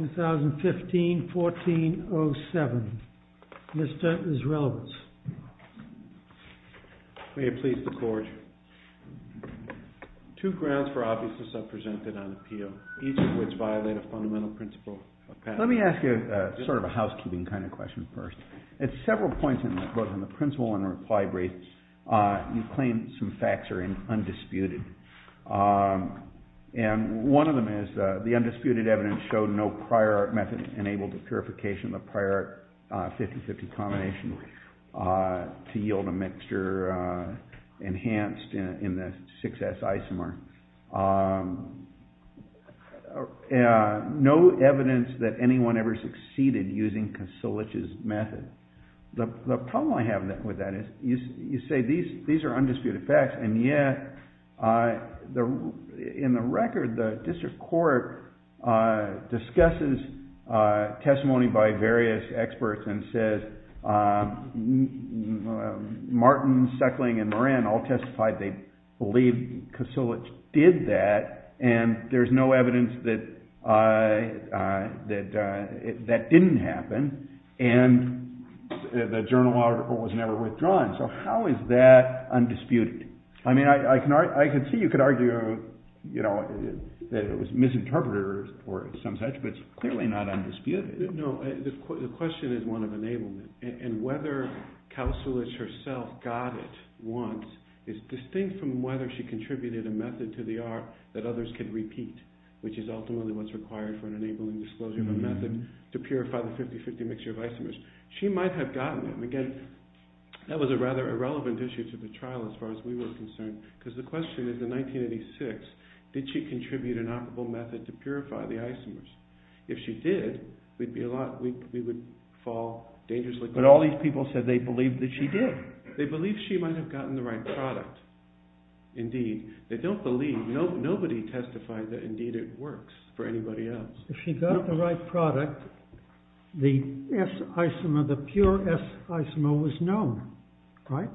2015-14-07 Mr. Isrelevitz May it please the Court, two grounds for obviousness are presented on appeal, each of which violate a fundamental principle of At several points both in the principle and reply brief, you claim some facts are undisputed. And one of them is the undisputed evidence showed no prior method enabled the purification of the prior 50-50 combination to yield a mixture enhanced in the 6S isomer. No evidence that anyone ever succeeded using Kosulich's method. The problem I have with that is you say these are undisputed facts and yet in the record the District Court discusses testimony by various experts and says Martin, Suckling and Moran all testified they believe Kosulich did that and there's no evidence that didn't happen and the journal article was never withdrawn. So how is that undisputed? I mean I can see you could argue that it was misinterpreted or some such but it's clearly not undisputed. No, the question is one of enablement and whether Kosulich herself got it once is distinct from whether she contributed a method to the art that others could repeat, which is ultimately what's required for an enabling disclosure of a method to purify the 50-50 mixture of isomers. She might have gotten it. That was a rather irrelevant issue to the trial as far as we were concerned because the question is in 1986, did she contribute an operable method to purify the isomers? If she did, we would fall dangerously. But all these people said they believed that she did. They believe she might have gotten the right product. Indeed, they don't believe, nobody testified that indeed it works for anybody else. If she got the right product, the S isomer, the pure S isomer was known, right?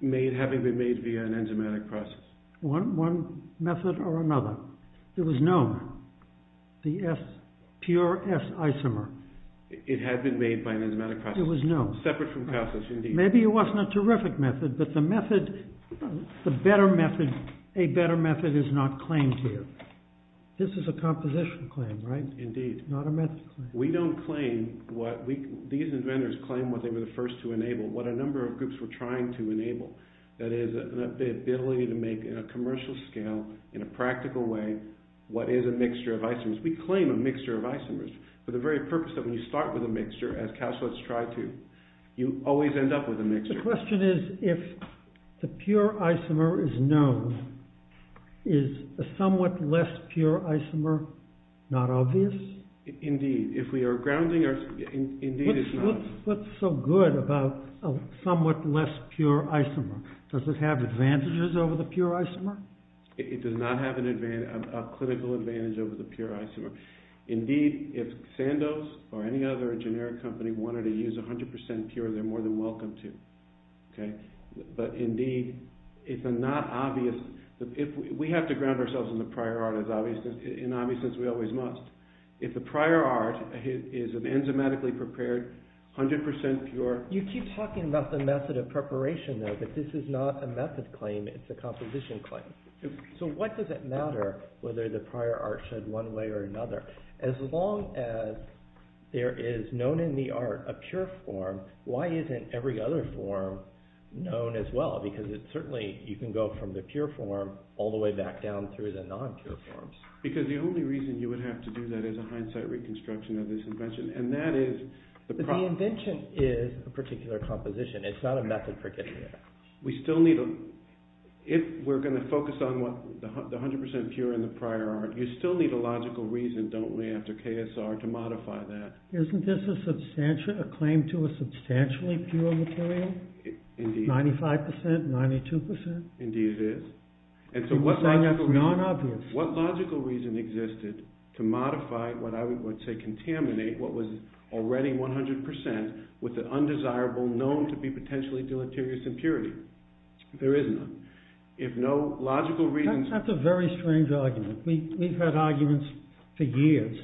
Made, having been made via an enzymatic process. One method or another. It was known, the S, pure S isomer. It had been made by an enzymatic process. It was known. Separate from Kosulich, indeed. Maybe it wasn't a terrific method but the method, the better method, a better method is not claimed here. This is a composition claim, right? Indeed. Not a method claim. We don't claim what we, these inventors claim what they were the first to enable. What a number of groups were trying to enable. That is, the ability to make in a commercial scale, in a practical way, what is a mixture of isomers. We claim a mixture of isomers for the very purpose that when you start with a mixture, as Kausulich tried to, you always end up with a mixture. The question is, if the pure isomer is known, is a somewhat less pure isomer not obvious? Indeed. If we are grounding, indeed it's not. What's so good about a somewhat less pure isomer? Does it have advantages over the pure isomer? It does not have a clinical advantage over the pure isomer. Indeed, if Sandoz or any other generic company wanted to use a hundred percent pure, they're more than welcome to. Okay? But indeed, it's a not obvious, if we have to ground ourselves in the prior art in obviousness, we always must. If the prior art is an enzymatically prepared, a hundred percent pure... You keep talking about the method of preparation, though, but this is not a method claim. It's a composition claim. So what does it matter whether the prior art showed one way or another? As long as there is known in the art a pure form, why isn't every other form known as well? Because it's certainly, you can go from the pure form all the way back down through the non forms. Because the only reason you would have to do that is a hindsight reconstruction of this invention, and that is... But the invention is a particular composition. It's not a method for getting there. We still need a... If we're going to focus on the hundred percent pure in the prior art, you still need a logical reason, don't we, after KSR to modify that. Isn't this a claim to a substantially pure material? Ninety-five percent? Ninety-two percent? Indeed it is. And so what logical reason existed to modify what I would say contaminate what was already one hundred percent with the undesirable known to be potentially deleterious impurity? There is none. If no logical reason... That's a very strange argument. We've had arguments for years.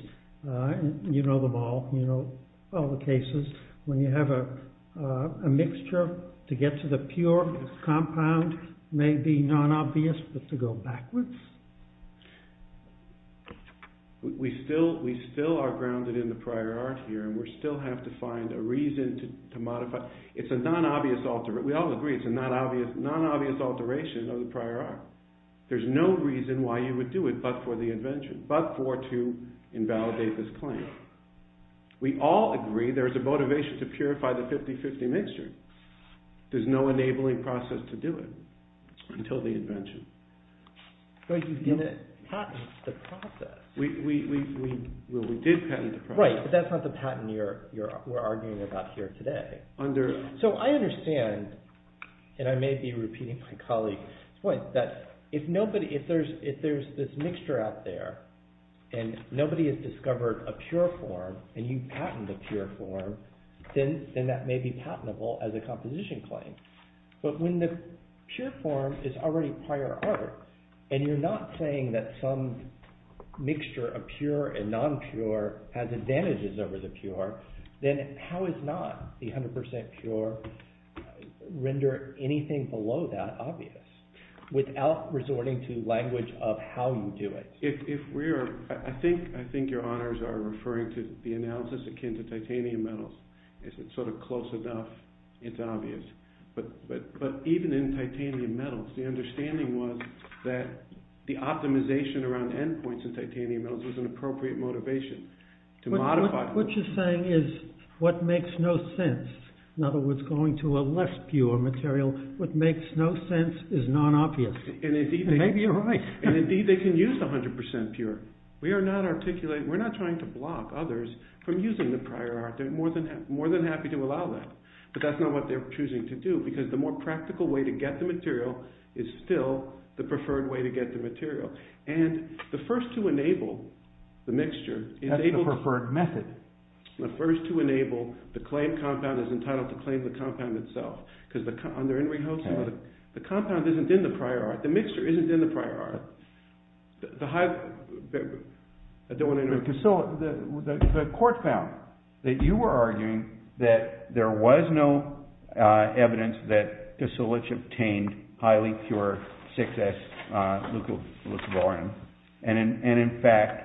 You know them all. You know all the cases. When you have a mixture, to get to the pure compound may be non-obvious, but to go backwards... We still are grounded in the prior art here, and we still have to find a reason to modify. It's a non-obvious alter... We all agree it's a non-obvious alteration of the prior art. There's no reason why you would do it but for the invention, but for to invalidate this claim. We all agree there's a motivation to purify the 50-50 mixture. There's no enabling process to do it until the invention. But you didn't patent the process. We did patent the process. Right, but that's not the patent we're arguing about here today. So I understand, and I may be repeating my colleague's point, that if there's this mixture out there, and nobody has discovered a pure form, and you patent the pure form, then that may be patentable as a composition claim. But when the pure form is already prior art, and you're not saying that some mixture of pure and non-pure has advantages over the pure, then how is not the 100% pure, render anything below that obvious, without resorting to language of how you do it? I think your honors are referring to the analysis akin to titanium metals. If it's sort of close enough, it's obvious. But even in titanium metals, the understanding was that the optimization around endpoints in titanium metals was an appropriate motivation to modify. What you're In other words, going to a less pure material, what makes no sense is non-obvious. Maybe you're right. And indeed, they can use the 100% pure. We are not articulating, we're not trying to block others from using the prior art. They're more than happy to allow that. But that's not what they're choosing to do, because the more practical way to get the material is still the preferred way to get the material. And the first to enable the mixture... That's the preferred method. The first to enable the claim compound is entitled to claim the compound itself. Because under Henry Hoeksema, the compound isn't in the prior art. The mixture isn't in the prior art. I don't want to interrupt. So the court found that you were arguing that there was no evidence that Kisilich obtained highly pure 6S And in fact,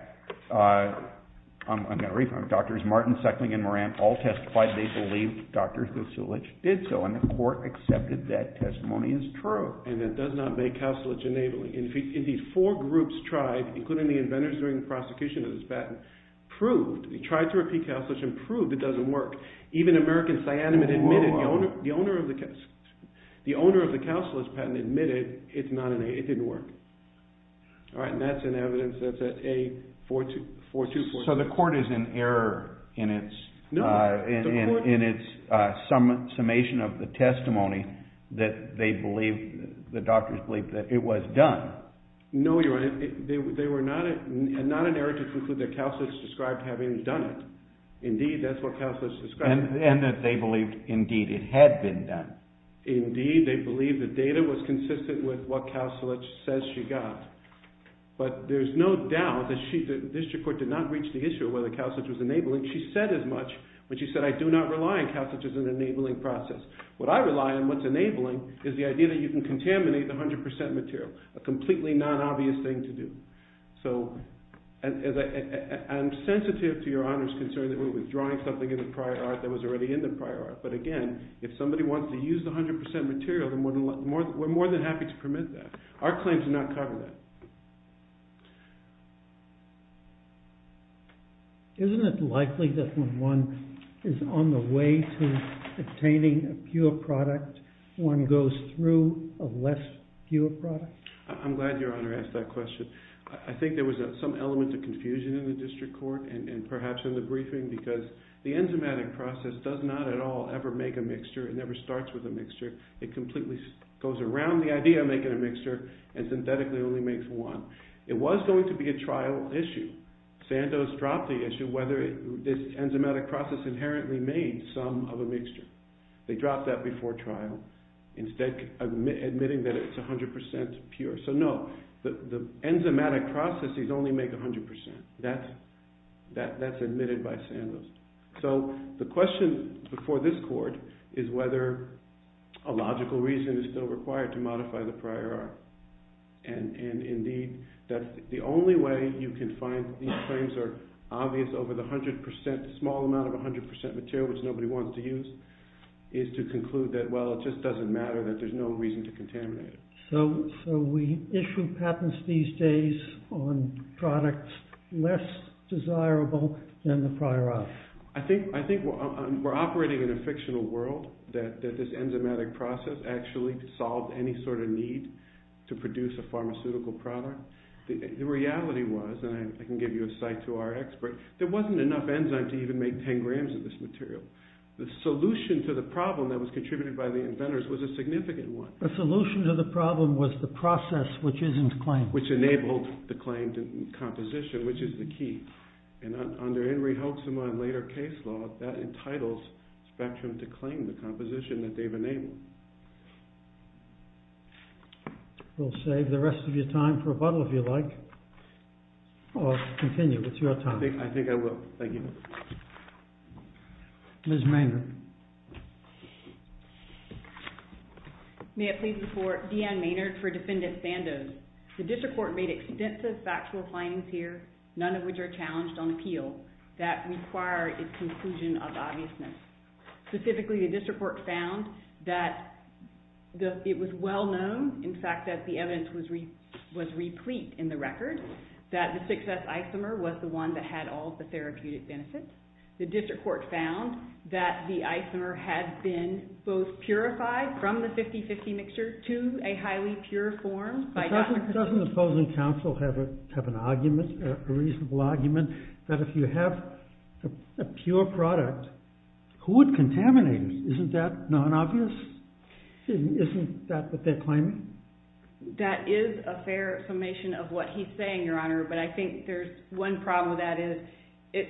Drs. Martin, Seckling, and Moran all testified they believe Dr. Kisilich did so, and the court accepted that testimony as true. And it does not make Kisilich enabling. And these four groups tried, including the inventors during the prosecution of this patent, proved, they tried to repeat Kisilich and proved it doesn't work. Even American Cyanamid admitted, the owner of the Kisilich patent admitted it didn't work. All right, and that's in evidence, that's at A4246. So the court is in error in its summation of the testimony that they believe, the doctors believe that it was done. No, Your Honor, they were not in error to conclude that Kisilich described having done it. Indeed, that's what Kisilich described. And that they believed it had been done. Indeed, they believed the data was consistent with what Kisilich says she got. But there's no doubt that the district court did not reach the issue of whether Kisilich was enabling. She said as much when she said, I do not rely on Kisilich as an enabling process. What I rely on what's enabling is the idea that you can contaminate the 100% material, a completely non-obvious thing to do. So I'm sensitive to Your Honor's concern that we're withdrawing something in the prior art that was already in the prior art. But again, if somebody wants to use the 100% material, we're more than happy to permit that. Our claims do not cover that. Isn't it likely that when one is on the way to obtaining a pure product, one goes through a less pure product? I'm glad Your Honor asked that question. I think there was some element of the enzymatic process does not at all ever make a mixture. It never starts with a mixture. It completely goes around the idea of making a mixture and synthetically only makes one. It was going to be a trial issue. Santos dropped the issue whether this enzymatic process inherently made some of a mixture. They dropped that before trial, instead admitting that it's 100% pure. So the question before this court is whether a logical reason is still required to modify the prior art. And indeed, the only way you can find these claims are obvious over the small amount of 100% material, which nobody wants to use, is to conclude that, well, it just doesn't matter, that there's no reason to contaminate it. So we issue patents these days on products less desirable than the prior art. I think we're operating in a fictional world, that this enzymatic process actually solved any sort of need to produce a pharmaceutical product. The reality was, and I can give you a site to our expert, there wasn't enough enzyme to even make 10 grams of this material. The solution to the problem that was contributed by the inventors was a significant one. The solution to the problem was the process which isn't claimed. Which enabled the claimed composition, which is the key. And under Henry Hoeksema and later case law, that entitles Spectrum to claim the composition that they've enabled. We'll save the rest of your time for rebuttal, if you like, or continue with your time. I think I will. Thank you. May I please report, Deanne Maynard for Defendant Sandoz. The district court made extensive factual findings here, none of which are challenged on appeal, that require its conclusion of obviousness. Specifically, the district court found that it was well known, in fact, that the evidence was replete in the record, that the success isomer was the one that had all the from the 50-50 mixture to a highly pure form. Doesn't the opposing counsel have an argument, a reasonable argument, that if you have a pure product, who would contaminate it? Isn't that non-obvious? Isn't that what they're claiming? That is a fair summation of what he's saying, your honor, but I think there's one problem with that is, it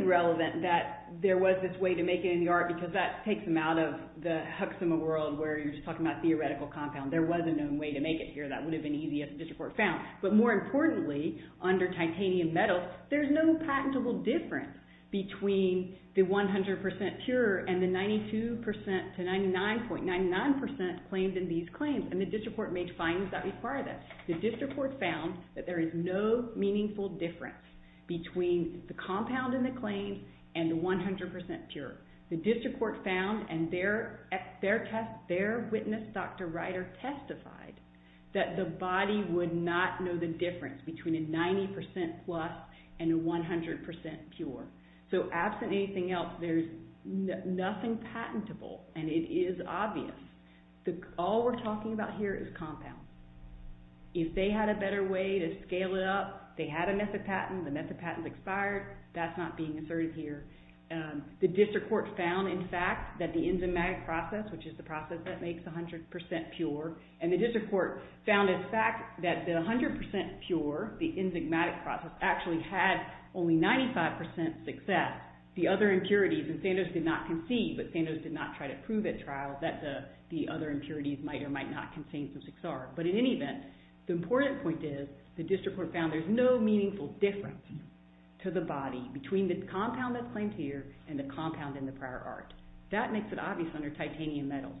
is relevant that there was this way to make it in the art, because that takes them out of the HUCSIMA world, where you're just talking about theoretical compound. There was a known way to make it here, that would have been easy if the district court found. But more importantly, under titanium metal, there's no patentable difference between the 100% pure and the 92% to 99.99% claims in these claims, and the district court made findings that require that. The district court found that there is no meaningful difference between the compound in the claim and the 100% pure. The district court found, and their witness, Dr. Ryder, testified that the body would not know the difference between a 90% plus and a 100% pure. So absent anything else, there's nothing patentable, and it is obvious. All we're talking about here is the metha-patent expired. That's not being asserted here. The district court found, in fact, that the enzymatic process, which is the process that makes 100% pure, and the district court found, in fact, that the 100% pure, the enzymatic process, actually had only 95% success. The other impurities, and Sandoz did not concede, but Sandoz did not try to prove at trial that the other impurities might or might not contain some 6R. But in any event, the important point is, the district court found there's no meaningful difference to the body between the compound that's claimed here and the compound in the prior art. That makes it obvious under titanium metal.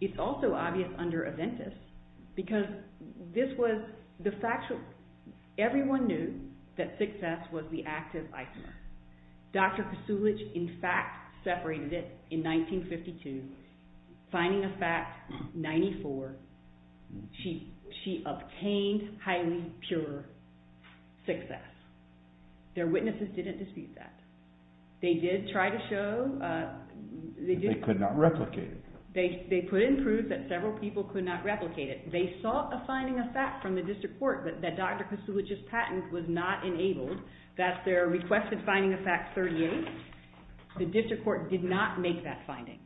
It's also obvious under Aventis, because this was the factual. Everyone knew that 6S was the active isomer. Dr. Krasulich, in fact, separated it in 1952, finding a fact 94, she obtained highly pure 6S. Their witnesses didn't dispute that. They did try to show... They could not replicate it. They couldn't prove that several people could not replicate it. They sought a finding of fact from the district court, but that Dr. Krasulich's The district court did not make that finding.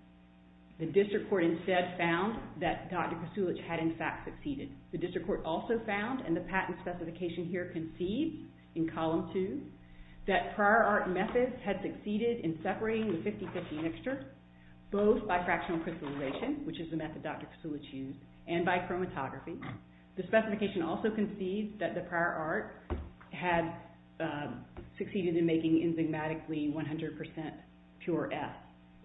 The district court instead found that Dr. Krasulich had, in fact, succeeded. The district court also found, and the patent specification here concedes in column 2, that prior art methods had succeeded in separating the 50-50 mixture, both by fractional crystallization, which is the method Dr. Krasulich used, and by chromatography. The specification also concedes that the prior art had succeeded in making, enzymatically, 100% pure S.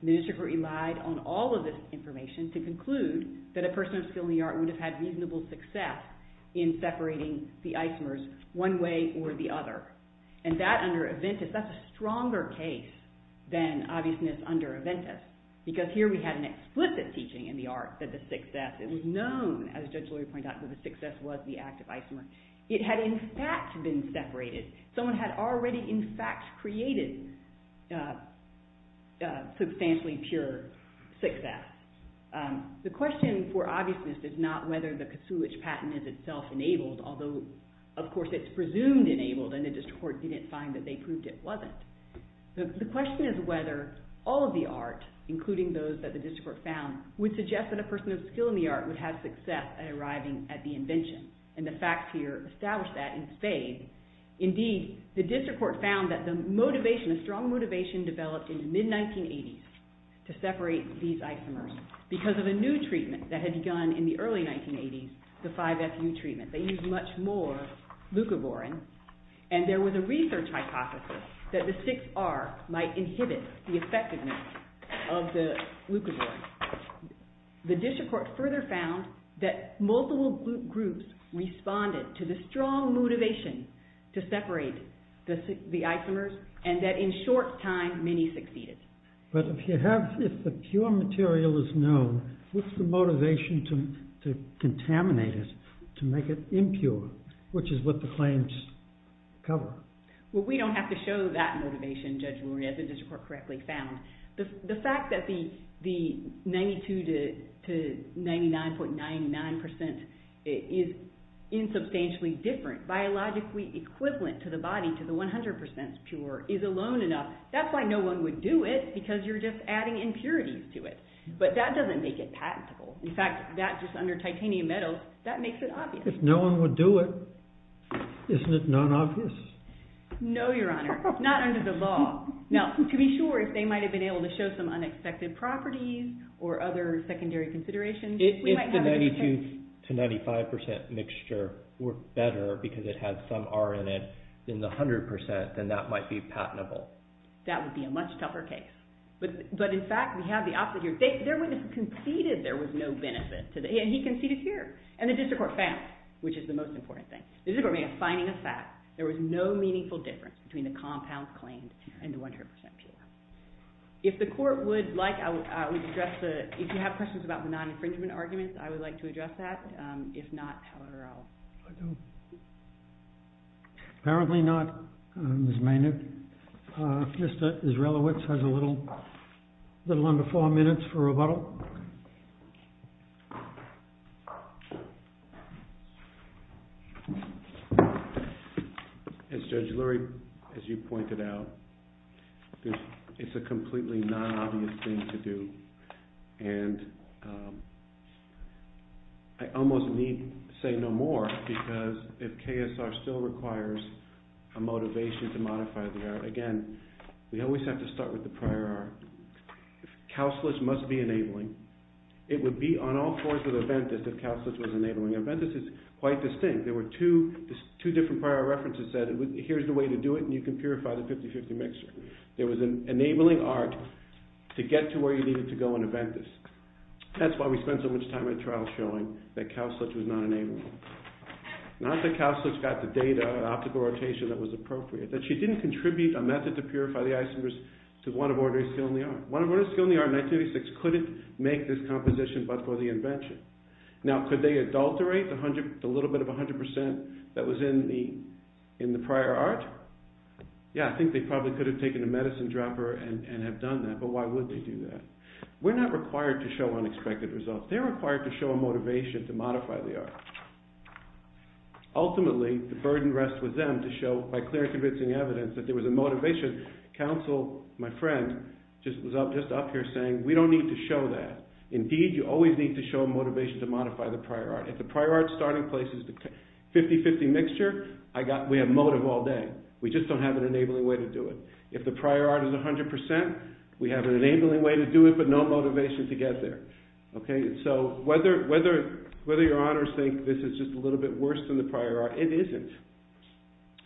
The district court relied on all of this information to conclude that a person of skill in the art would have had reasonable success in separating the isomers one way or the other. That, under Aventis, that's a stronger case than obviousness under Aventis, because here we had an explicit teaching in the art that the 6S, it was known, as Judge Lurie pointed out, that the 6S was the active isomer. It had, in fact, been separated. Someone had already, in fact, created substantially pure 6S. The question for obviousness is not whether the Krasulich patent is itself enabled, although, of course, it's presumed enabled, and the district court didn't find that they proved it wasn't. The question is whether all of the art, including those that the district court found, would suggest that a person of skill in the art would have success at arriving at the isomer, establish that, and fade. Indeed, the district court found that the motivation, the strong motivation developed in the mid-1980s to separate these isomers because of a new treatment that had begun in the early 1980s, the 5FU treatment. They used much more leucoborin, and there was a research hypothesis that the 6R might have worked to the strong motivation to separate the isomers, and that in short time, many succeeded. But if you have, if the pure material is known, what's the motivation to contaminate it, to make it impure, which is what the claims cover? Well, we don't have to show that motivation, Judge Lurie, as the district court correctly found. The fact that the 92 to 99.99% is insubstantially different, biologically equivalent to the body, to the 100% pure, is alone enough. That's why no one would do it, because you're just adding impurities to it. But that doesn't make it patentable. In fact, that just under titanium metals, that makes it obvious. If no one would do it, isn't it non-obvious? No, Your Honor, not under the law. Now, to be sure, if they might have been able to show some unexpected properties or other secondary considerations, If the 92 to 95% mixture were better, because it had some R in it, in the 100%, then that might be patentable. That would be a much tougher case. But in fact, we have the opposite here. Their witness conceded there was no benefit, and he conceded here. And the district court failed, which is the most important thing. The district court made a finding of fact. There was no meaningful difference between the compounds claimed and the 100% pure. If you have questions about the non-infringement arguments, I would like to address that. If not, however, I'll... Apparently not, Ms. Maynard. Mr. Israelowicz has a little under four minutes for rebuttal. As Judge Lurie, as you pointed out, it's a completely non-obvious thing to do. And I almost need say no more, because if KSR still requires a motivation to modify the art, again, we always have to start with the prior art. If Kauslitz must be enabling, it would be on all fours with Aventus if Kauslitz was enabling. Aventus is quite distinct. There were two different prior references that said, here's the way to do it, and you can purify the 50-50 mixture. There was an enabling art to get to where you needed to go in Aventus. That's why we spent so much time in the trial showing that Kauslitz was not enabling. Not that Kauslitz got the data and optical rotation that was appropriate, that she didn't contribute a method to purify the isomers to one of ordinary skill in the art. One of ordinary skill in the art in 1986 couldn't make this composition but for the invention. Now, could they adulterate the little bit of 100% that was in the prior art? Yeah, I think they probably could have taken a medicine dropper and have done that, but why would they do that? We're not required to show unexpected results. They're required to show a motivation to modify the art. Ultimately, the burden rests with them to show by clear and convincing evidence that there was a motivation. Kauslitz, my friend, was just up here saying, we don't need to show that. Indeed, you always need to show motivation to modify the prior art. If the prior art's starting place is the 50-50 mixture, we have motive all day. We just don't have an enabling way to do it. If the prior art is 100%, we have an enabling way to do it but no motivation to get there. Whether your honors think this is just a little bit worse than the prior art, it isn't.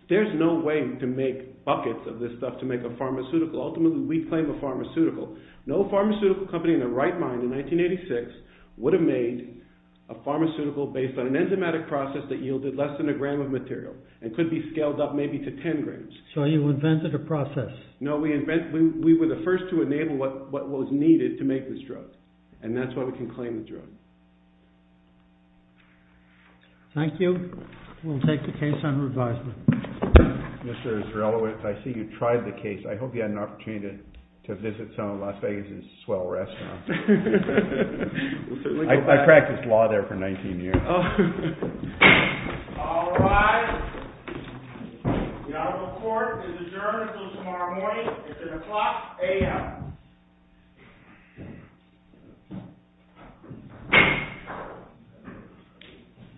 There's no way to make buckets of this stuff to make a pharmaceutical. Ultimately, we claim a pharmaceutical. No pharmaceutical company in their right mind in 1986 would have made a pharmaceutical based on an enzymatic process that yielded less than a gram of material and could be scaled up maybe to 10 grams. So you invented a process. No, we were the first to enable what was needed to make this drug. And that's why we can claim the drug. Thank you. We'll take the case under advisement. Mr. Israelowitz, I see you tried the case. I hope you had an opportunity to visit some of Las Vegas' swell restaurants. I practiced law there for 19 years. All rise. The honorable court is adjourned until tomorrow morning. It's at o'clock a.m.